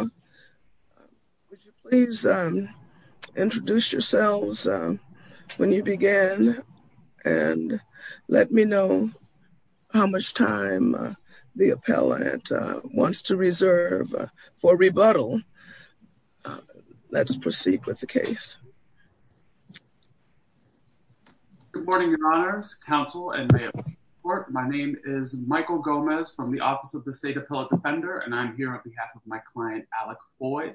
Would you please introduce yourselves when you begin and let me know how much time the appellant wants to reserve for rebuttal. Let's proceed with the case. Good morning, your honors, counsel, and mayors of the court. My name is Michael Gomez from the Office of the State Appellate Defender, and I'm here on behalf of my client, Alec Foy,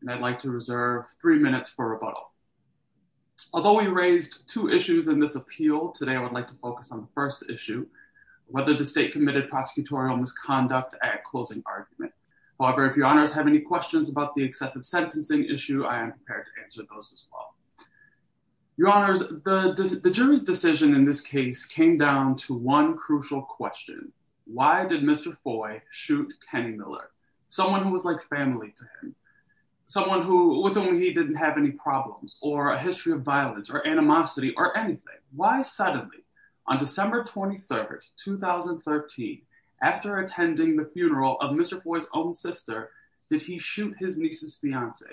and I'd like to reserve three minutes for rebuttal. Although we raised two issues in this appeal, today I would like to focus on the first issue, whether the state committed prosecutorial misconduct at closing argument. However, if your honors have any questions about the excessive sentencing issue, I am prepared to answer those as well. Your honors, the jury's decision in this case came down to one crucial question. Why did Mr. Foy shoot Kenny Miller? Someone who was like family to him, someone who was only he didn't have any problems, or a history of violence, or animosity, or anything. Why suddenly, on December 23rd, 2013, after attending the funeral of Mr. Foy's own sister, did he shoot his niece's fiance?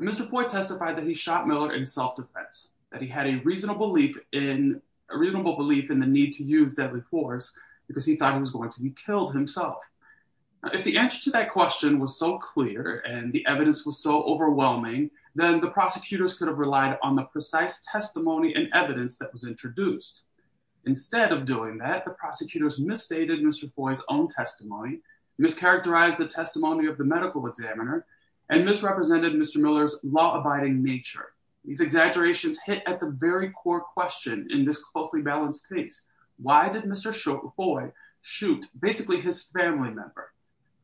Mr. Foy testified that he shot Miller in self-defense, that he had a reasonable belief in the need to use deadly force because he thought he was going to be killed himself. If the answer to that question was so clear, and the evidence was so overwhelming, then the prosecutors could have relied on the precise testimony and evidence that was introduced. Instead of doing that, the prosecutors misstated Mr. Foy's own testimony, mischaracterized the testimony of the medical examiner, and misrepresented Mr. Miller's law-abiding nature. These exaggerations hit at the very core question in this closely balanced case. Why did Mr. Foy shoot, basically, his family member?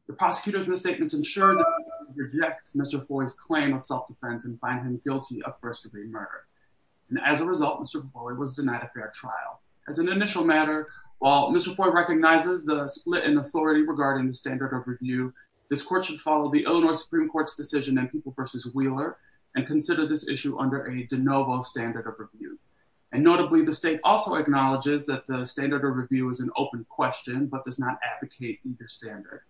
The prosecutors' misstatements ensured that they could reject Mr. Foy's claim of self-defense and find him guilty of first-degree murder. As a result, Mr. Foy was denied a fair trial. As an initial matter, while Mr. Foy recognizes the split in authority regarding the standard of review, this court should follow the Illinois Supreme Court's decision in People v. Wheeler and consider this issue under a de novo standard of review. And notably, the state also acknowledges that the standard of review is an open question but does not advocate either standard.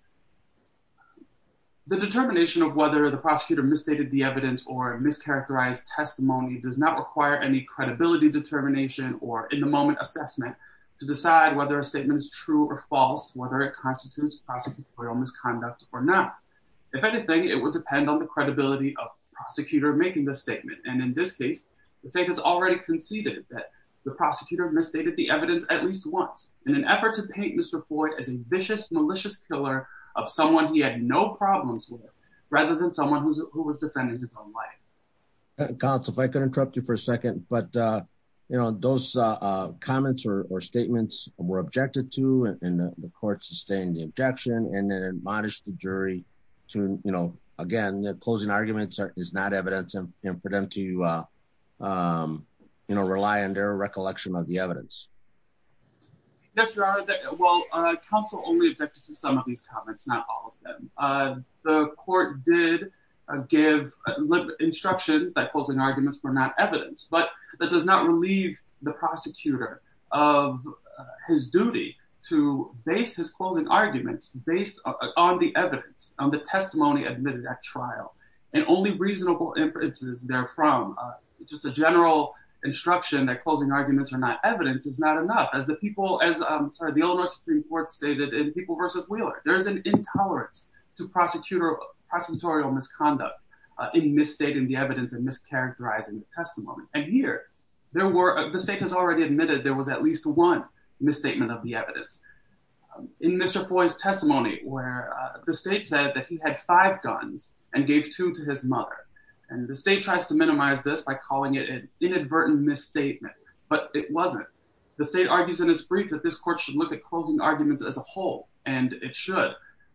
The determination of whether the prosecutor misstated the evidence or mischaracterized testimony does not require any credibility determination or in-the-moment assessment to decide whether a statement is true or false, whether it constitutes prosecutorial misconduct or not. If anything, it would depend on the credibility of the prosecutor making the statement. And in this case, the state has already conceded that the prosecutor misstated the evidence at least once in an effort to paint Mr. Foy as a vicious, malicious killer of someone he had no problems with, rather than someone who was defending his own life. Counsel, if I could interrupt you for a second, but those comments or statements were objected to and the court sustained the objection and it admonished the jury to, again, closing arguments is not evidence for them to rely on their recollection of the evidence. Yes, Your Honor, well, counsel only objected to some of these comments, not all of them. The court did give instructions that closing arguments were not evidence, but that does not relieve the prosecutor of his duty to base his closing arguments based on the evidence, on the testimony admitted at trial and only reasonable inferences therefrom. Just a general instruction that closing arguments are not evidence is not enough. As the people, as the Illinois Supreme Court stated in People v. Wheeler, there is an intolerance to prosecutorial misconduct in misstating the evidence and mischaracterizing the testimony. And here, the state has already admitted there was at least one misstatement of the evidence. In Mr. Foy's testimony where the state said that he had five guns and gave two to his mother and the state tries to minimize this by calling it an inadvertent misstatement, but it wasn't. The state argues in its brief that this court should look at closing arguments as a whole and it should.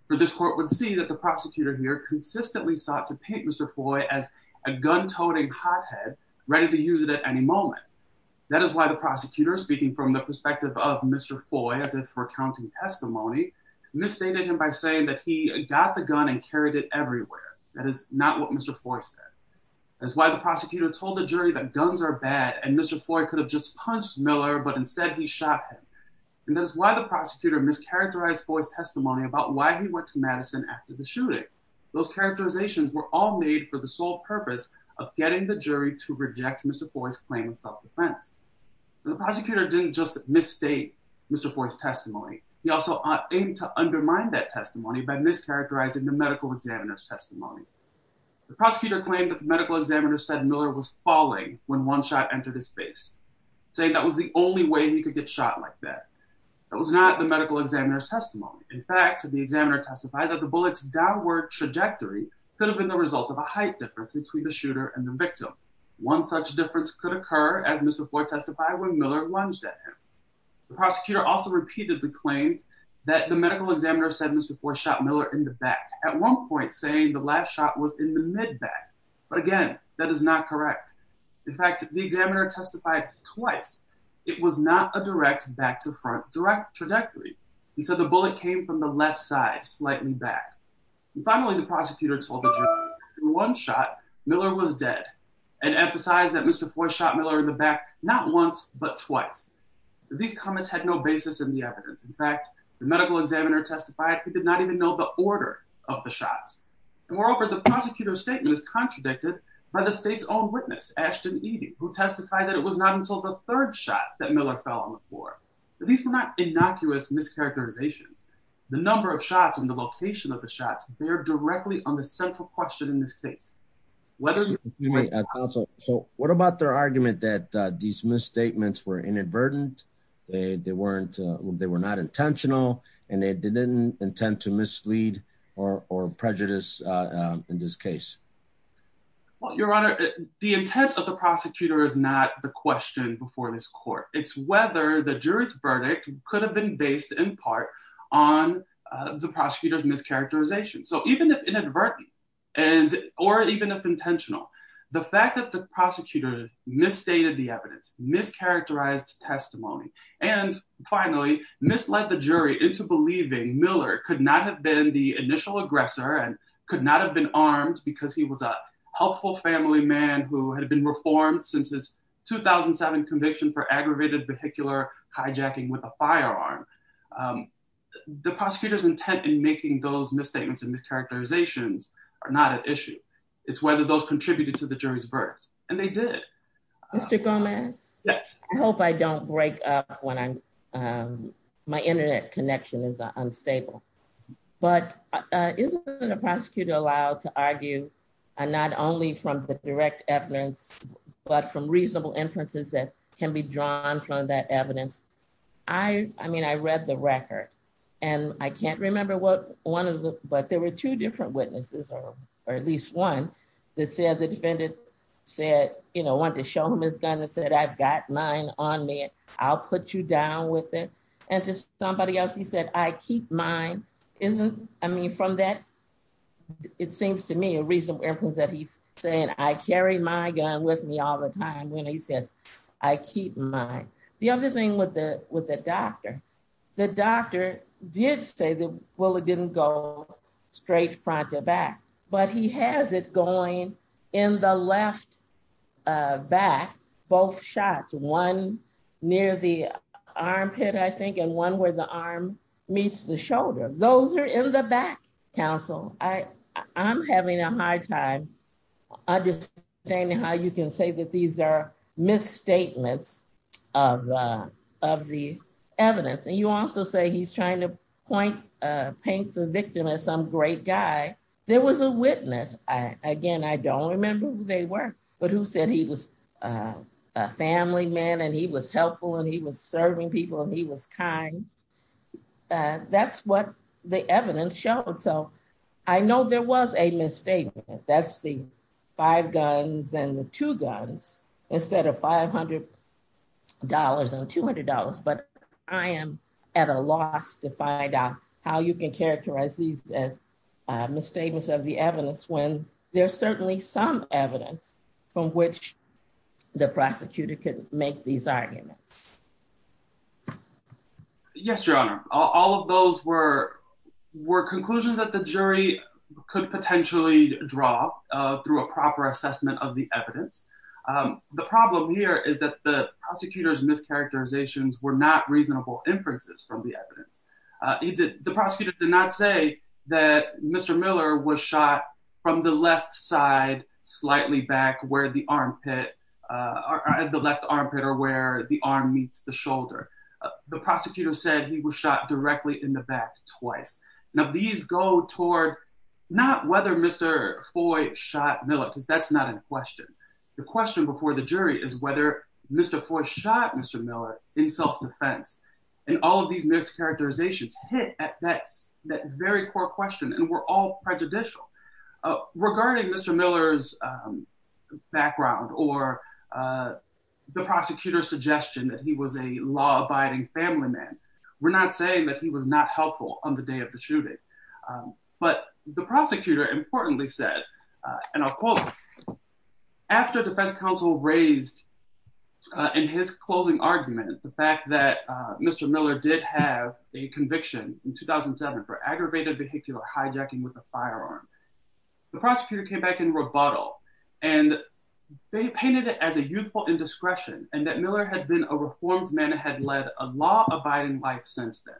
For this court would see that the prosecutor here consistently sought to paint Mr. Foy as a gun-toting hothead ready to use it at any moment. That is why the prosecutor, speaking from the perspective of Mr. Foy, as if for accounting testimony, misstated him by saying that he got the gun and carried it everywhere. That is not what Mr. Foy said. That's why the prosecutor told the jury that guns are bad and Mr. Foy could have just punched Miller, but instead he shot him. And that's why the prosecutor mischaracterized Foy's testimony about why he went to Madison after the shooting. Those characterizations were all made for the sole purpose of getting the jury to reject Mr. Foy's claim of self-defense. The prosecutor didn't just misstate Mr. Foy's testimony. He also aimed to undermine that testimony by mischaracterizing the medical examiner's testimony. The prosecutor claimed that the medical examiner said Miller was falling when one shot entered his face, saying that was the only way he could get shot like that. That was not the medical examiner's testimony. In fact, the examiner testified that the bullet's downward trajectory could have been the result of a height difference between the shooter and the victim. One such difference could occur, as Mr. Foy testified, when Miller lunged at him. The prosecutor also repeatedly claimed that the medical examiner said Mr. Foy shot Miller in the back, at one point saying the last shot was in the mid-back. But again, that is not correct. In fact, the examiner testified twice. It was not a direct back-to-front trajectory. He said the bullet came from the left side, slightly back. Finally, the prosecutor told the jury that in one shot, Miller was dead, and emphasized that Mr. Foy shot Miller in the back not once, but twice. These comments had no basis in the evidence. In fact, the medical examiner testified he did not even know the order of the shots. Moreover, the prosecutor's statement is contradicted by the state's own witness, Ashton Evie, who testified that it was not until the third shot that Miller fell on the floor. These were not innocuous mischaracterizations. The number of shots and the location of the shots bear directly on the central question in this case. So what about their argument that these misstatements were inadvertent, they weren't, they were not intentional, and they didn't intend to mislead or prejudice in this case? Well, Your Honor, the intent of the prosecutor is not the question before this court. It's whether the jury's verdict could have been based in part on the prosecutor's mischaracterization. So even if inadvertent, and or even if intentional, the fact that the prosecutor misstated the evidence, mischaracterized testimony, and finally, misled the jury into believing Miller could not have been the initial aggressor and could not have been armed because he was a helpful family man who had been reformed 2007 conviction for aggravated vehicular hijacking with a firearm. The prosecutor's intent in making those misstatements and mischaracterizations are not an issue. It's whether those contributed to the jury's verdict. And they did. Mr. Gomez, I hope I don't break up when I'm, my internet connection is unstable. But isn't it a prosecutor allowed to argue, not only from the direct evidence, but from reasonable inferences that can be drawn from that evidence? I mean, I read the record, and I can't remember what one of the, but there were two different witnesses, or at least one that said the defendant said, you know, want to show him his gun and said, I've got mine on me. I'll put you down with it. And just somebody else, he said, I keep mine. I mean, from that, it seems to me a reasonable inference that he's saying, I carry my gun with me all the time when he says, I keep mine. The other thing with the doctor, the doctor did say that, well, it didn't go straight front to back, but he has it going in the left back, both shots, one near the armpit, I think, and one where the arm meets the shoulder. Those are in the back, counsel. I'm having a hard time understanding how you can say that these are misstatements of the evidence. And you also say he's trying to point, paint the victim as some great guy. There was a witness. Again, I don't remember who they were, but who said he was a family man, and he was helpful, and he was serving people, and he was kind. And that's what the evidence showed. So I know there was a misstatement. That's the five guns and the two guns instead of $500 and $200. But I am at a loss to find out how you can characterize these as misstatements of the evidence when there's certainly some evidence from which the prosecutor could make these arguments. Yes, Your Honor, all of those were conclusions that the jury could potentially draw through a proper assessment of the evidence. The problem here is that the prosecutor's mischaracterizations were not reasonable inferences from the evidence. The prosecutor did not say that Mr. Miller was shot from the left side, slightly back where the armpit, the left armpit or where the arm meets the shoulder. The prosecutor said he was shot directly in the back twice. Now, these go toward not whether Mr. Foy shot Miller, because that's not in question. The question before the jury is whether Mr. Foy shot Mr. Miller in self-defense. And all of these mischaracterizations hit at that very core question and were all prejudicial. Regarding Mr. Miller's background or the prosecutor's suggestion that he was a law-abiding family man, we're not saying that he was not helpful on the day of the shooting. But the prosecutor importantly said, and I'll quote, after defense counsel raised in his closing argument the fact that Mr. Miller did have a conviction in 2007 for aggravated vehicular hijacking with a firearm, the prosecutor came back in rebuttal and they painted it as a youthful indiscretion and that Miller had been a reformed man and had led a law-abiding life since then.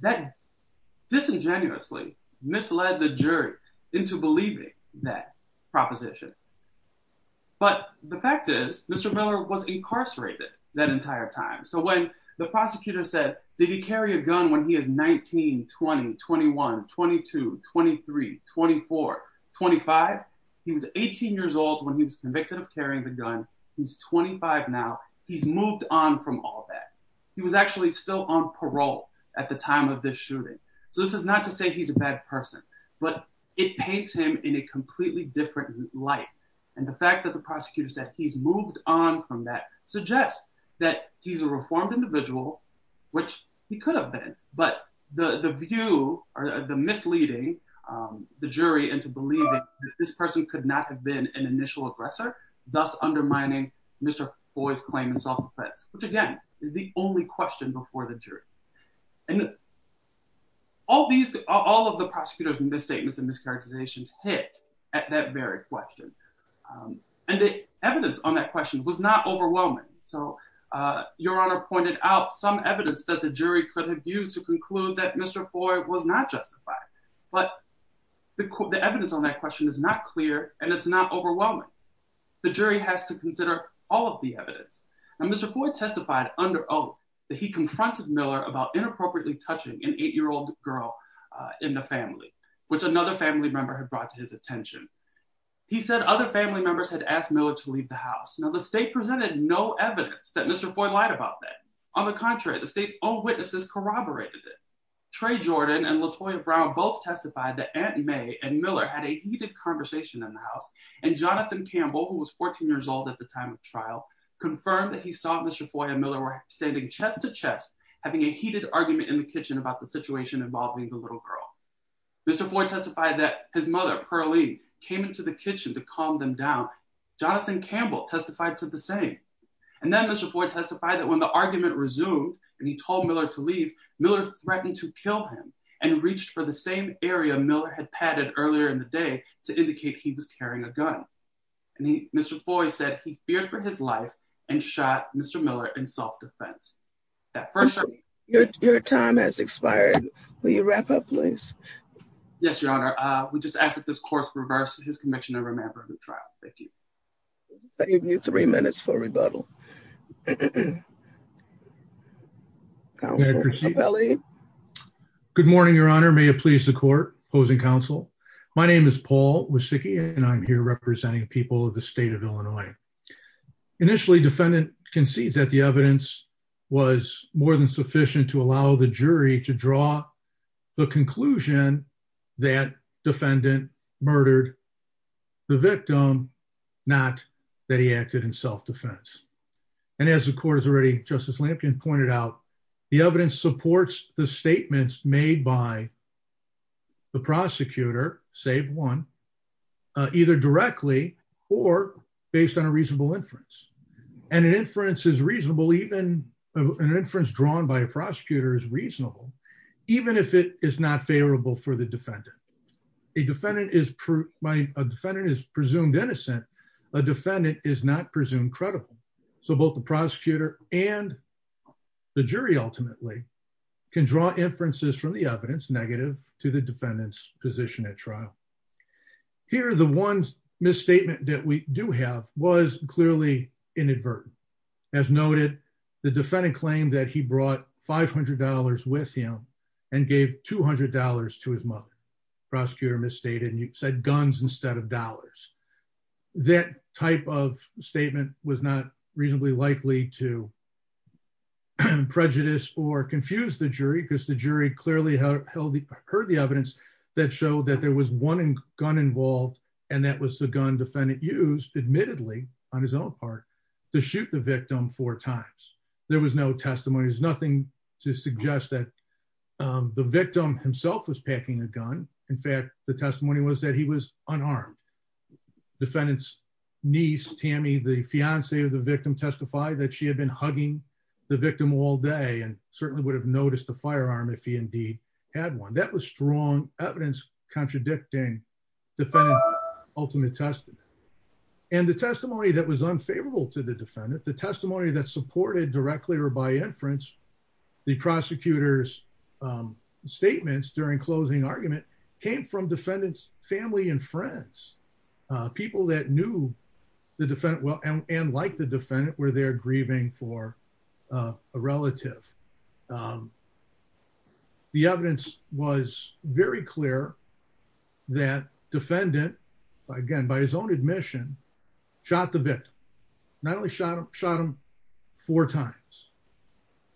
That disingenuously misled the jury into believing that proposition. But the fact is, Mr. Miller was incarcerated that entire time. So when the prosecutor said, did he carry a gun when he was 19, 20, 21, 22, 23, 24, 25? He was 18 years old when he was convicted of carrying the gun. He's 25 now. He's moved on from all that. He was actually still on parole at the time of this shooting. So this is not to say he's a bad person, but it paints him in a completely different light. And the fact that the prosecutor said he's moved on from that suggests that he's a reformed individual, which he could have been. But the view or the misleading the jury into believing that this person could not have been an initial aggressor, thus undermining Mr. Foy's claim in self-defense, which again, is the only question before the jury. And all of the prosecutor's misstatements and mischaracterizations hit at that very question. And the evidence on that question was not overwhelming. So Your Honor pointed out some evidence that the jury could have used to conclude that Mr. Foy was not justified, but the evidence on that question is not clear and it's not overwhelming. The jury has to consider all of the evidence. And Mr. Foy testified under oath that he confronted Miller about inappropriately touching an eight-year-old girl in the family, which another family member had brought to his house and other family members had asked Miller to leave the house. Now the state presented no evidence that Mr. Foy lied about that. On the contrary, the state's own witnesses corroborated it. Trey Jordan and Latoya Brown both testified that Aunt May and Miller had a heated conversation in the house and Jonathan Campbell, who was 14 years old at the time of trial, confirmed that he saw Mr. Foy and Miller were standing chest to chest, having a heated argument in the kitchen about the situation involving the little girl. Mr. Foy testified that his mother, Pearlie, came into the kitchen to calm them down. Jonathan Campbell testified to the same. And then Mr. Foy testified that when the argument resumed and he told Miller to leave, Miller threatened to kill him and reached for the same area Miller had padded earlier in the day to indicate he was carrying a gun. And Mr. Foy said he feared for his life and shot Mr. Miller in self-defense. At first, your time has expired. Will you wrap up, please? Yes, Your Honor. We just ask that this course reverse his conviction and remember the trial. Thank you. I give you three minutes for rebuttal. Good morning, Your Honor. May it please the court opposing counsel. My name is Paul Wysicki and I'm here representing people of the state of Illinois. Initially, defendant concedes that the evidence was more than sufficient to allow the jury to draw the conclusion that defendant murdered the victim, not that he acted in self-defense. And as the court has already, Justice Lampkin pointed out, the evidence supports the statements made by the prosecutor, save one, either directly or based on a reasonable inference. And an inference is reasonable, even an inference drawn by a prosecutor is reasonable, even if it is not favorable for the defendant. A defendant is presumed innocent. A defendant is not presumed credible. So both the prosecutor and the jury ultimately can draw inferences from the evidence negative to the defendant's position at trial. Here, the one misstatement that we do have was clearly inadvertent. As noted, the defendant claimed that he brought $500 with him and gave $200 to his mother. Prosecutor misstated and you said guns instead of dollars. That type of statement was not reasonably likely to prejudice or confuse the jury because the jury clearly heard the evidence that showed that there was one gun involved and that was the gun defendant used, admittedly on his own part, to shoot the victim four times. There was no testimony. There's nothing to suggest that the victim himself was packing a gun. In fact, the testimony was that he was unarmed. Defendant's niece, Tammy, the fiance of the victim, testified that she had been hugging the victim all day and certainly would have noticed the firearm if he indeed had one. That was strong evidence contradicting defendant's ultimate testimony. And the testimony that was unfavorable to the defendant, the testimony that supported directly or by inference the prosecutor's statements during closing argument came from defendant's family and friends, people that knew the defendant well and like the defendant were there grieving for a relative. The evidence was very clear that defendant, again by his own admission, shot the victim. Not only shot him four times.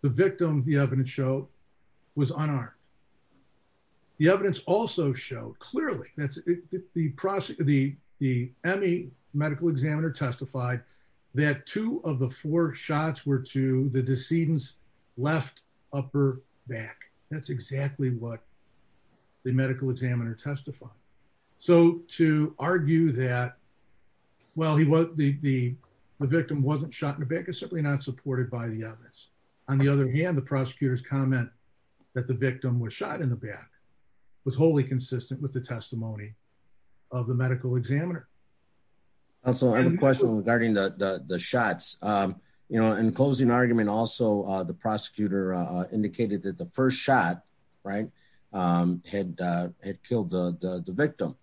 The victim, the evidence showed, was unarmed. The evidence also showed clearly, the ME medical examiner testified that two of the four shots were to the decedent's left upper back. That's exactly what the medical examiner testified. So to argue that, well, the victim wasn't shot in the back is simply not supported by the evidence. On the other hand, the prosecutor's comment that the victim was shot in the back was wholly consistent with the testimony of the medical examiner. Also, I have a question regarding the shots. In closing argument, also the prosecutor indicated that the first shot had killed the victim,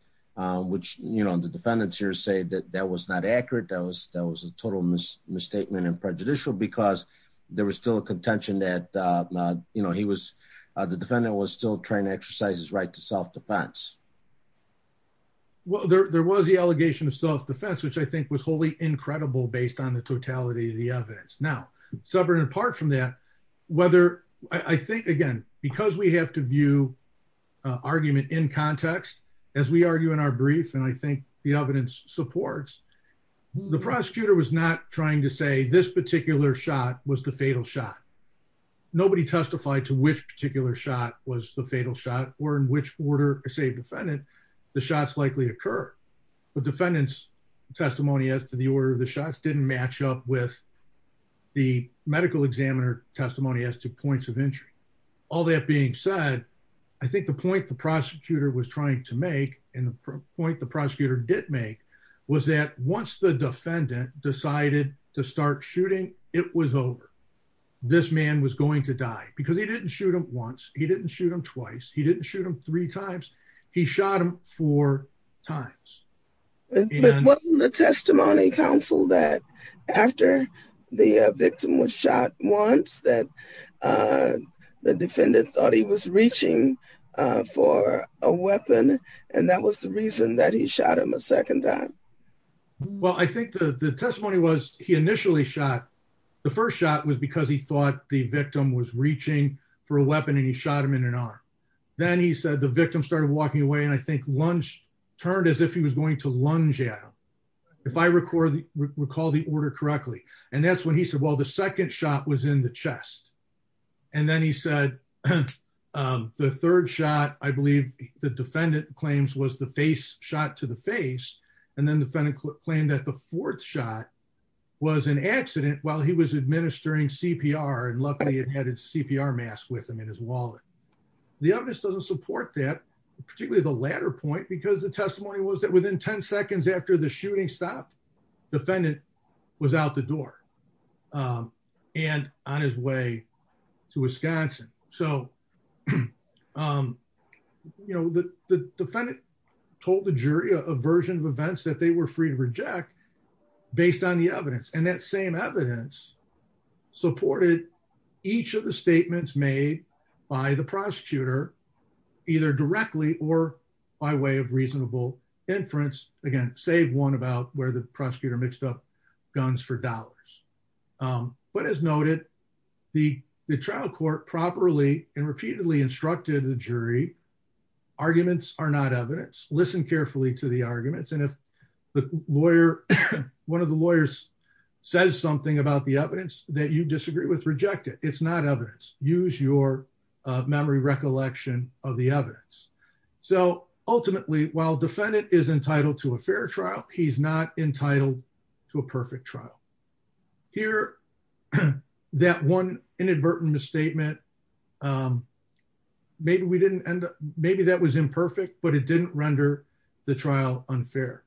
which the defendants here say that that was not accurate. That was a total misstatement and prejudicial because there was still a contention that he was, the defendant was still trying to exercise his right to self-defense. Well, there was the allegation of self-defense, which I think was wholly incredible based on the totality of the evidence. Now, separate and apart from that, whether, I think again, because we have to view argument in context, as we argue in our brief, and I think the evidence supports, the prosecutor was not trying to say this particular shot was the fatal shot. Nobody testified to which particular shot was the fatal shot or in which order a safe defendant, the shots likely occur. The defendant's testimony as to the order of the shots didn't match up with the medical examiner testimony as to points of injury. All that being said, I think the point the prosecutor was trying to make and the point the prosecutor did make was that once the defendant decided to start shooting, it was over. This man was going to die because he didn't shoot him once. He didn't shoot him twice. He didn't shoot him three times. He shot him four times. But wasn't the testimony counseled that after the victim was shot once that the defendant thought he was reaching for a weapon and that was the reason that he shot him a second time? Well, I think the testimony was he initially shot. The first shot was because he thought the victim was reaching for a weapon and he shot him in an arm. Then he said the victim started walking away and I think turned as if he was going to lunge at him. If I recall the order correctly, and that's when he said, well, the second shot was in the chest. And then he said the third shot, I believe the defendant claims was the face shot to the face. And then the defendant claimed that the fourth shot was an accident while he was administering CPR. And luckily it had a CPR mask with him in his wallet. The evidence doesn't support that, particularly the latter point, because the testimony was that within 10 seconds after the shooting stopped, the defendant was out the door and on his way to Wisconsin. So the defendant told the jury a version of events that they were free to reject based on the evidence. And that same evidence supported each of the statements made by the prosecutor either directly or by way of reasonable inference. Again, save one about where the prosecutor mixed up guns for dollars. But as noted, the trial court properly and repeatedly instructed the jury, arguments are not evidence. Listen carefully to the arguments. And if one of the lawyers says something about the evidence that you disagree with, reject it. It's not evidence. Use your memory recollection of the evidence. So ultimately, while defendant is entitled to a fair trial, he's not entitled to a perfect trial. Here, that one inadvertent misstatement, maybe that was imperfect, but it didn't render the trial unfair.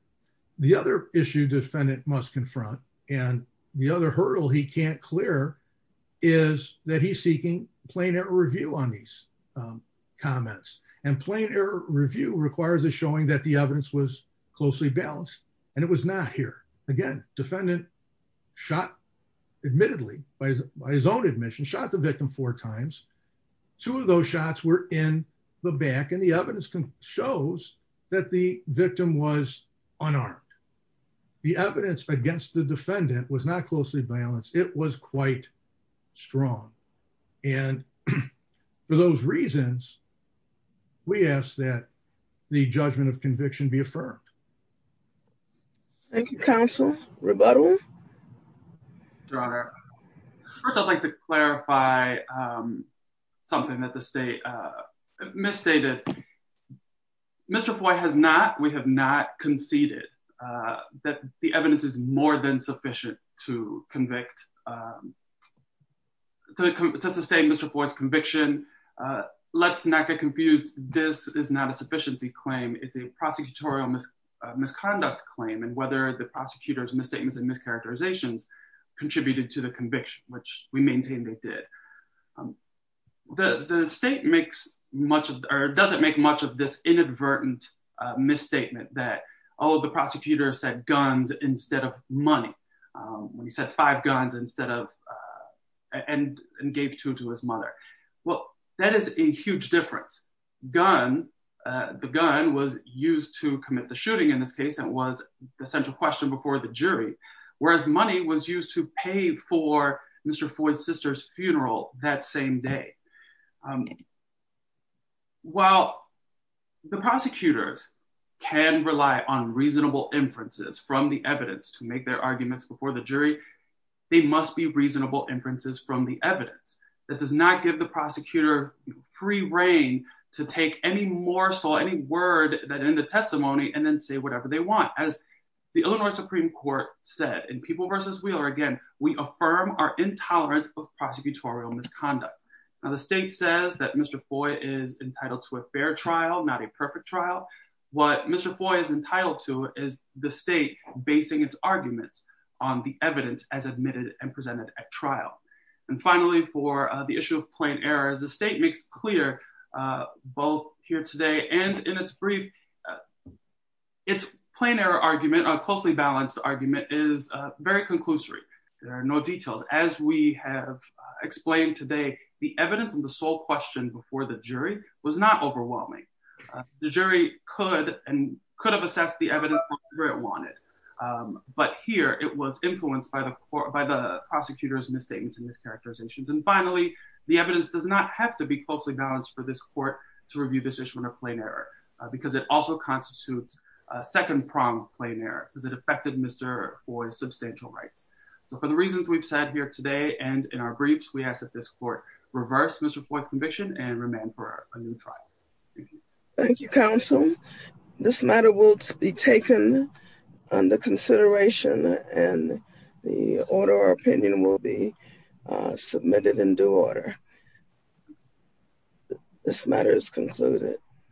The other issue defendant must confront, and the other hurdle he can't clear, is that he's seeking plain error review on these comments. And plain error review requires a showing that the evidence was closely balanced. And it was not here. Again, defendant shot, admittedly, by his own admission, shot the victim four times. Two of those shots were in the back. And the evidence shows that the victim was unarmed. The evidence against the defendant was not closely balanced. It was quite strong. And for those reasons, we ask that the judgment of conviction be affirmed. Thank you, counsel. Rebuttal. Your Honor, first I'd like to clarify something that the state misstated. Mr. Foy has not, we have not conceded that the evidence is more than sufficient to convict, to sustain Mr. Foy's conviction. Let's not get confused. This is not a sufficiency claim. It's a prosecutorial misconduct claim. And whether the prosecutor's misstatements and mischaracterizations contributed to the conviction, which we maintain they did. The state makes much of, or doesn't make much of this inadvertent misstatement that all of the prosecutors said guns instead of money. When he said five guns instead of, and gave two to his mother. Well, that is a huge difference. Gun, the gun was used to commit the shooting in this case. That was the central question before the jury. Whereas money was used to pay for Mr. Foy's sister's funeral that same day. While the prosecutors can rely on reasonable inferences from the evidence to make their arguments before the jury, they must be reasonable inferences from the evidence. That does not give the prosecutor free reign to take any morsel, any word that in the testimony, and then say whatever they want. As the Illinois Supreme Court said in People v. Wheeler, again, we affirm our intolerance of prosecutorial misconduct. Now the state says that Mr. Foy is entitled to a fair trial, not a perfect trial. What Mr. Foy is entitled to is the state basing its arguments on the evidence as admitted and presented at trial. And finally, for the issue of plain error, as the state makes clear both here today and in its brief, its plain error argument, a closely balanced argument, is very conclusory. There are no details. As we have explained today, the evidence and the sole question before the jury was not overwhelming. The jury could have assessed the evidence however it wanted. But here it was influenced by the prosecutor's misstatements and mischaracterizations. And finally, the evidence does not have to be closely balanced for this court to review this issue of plain error because it also constitutes a second prong of plain error because it affected Mr. Foy's substantial rights. So for the reasons we've said here today and in our briefs, we ask that this court reverse Mr. Foy's conviction and remand for a new trial. Thank you. Thank you, counsel. This matter will be taken under consideration and the order or opinion will be submitted in due order. This matter is concluded.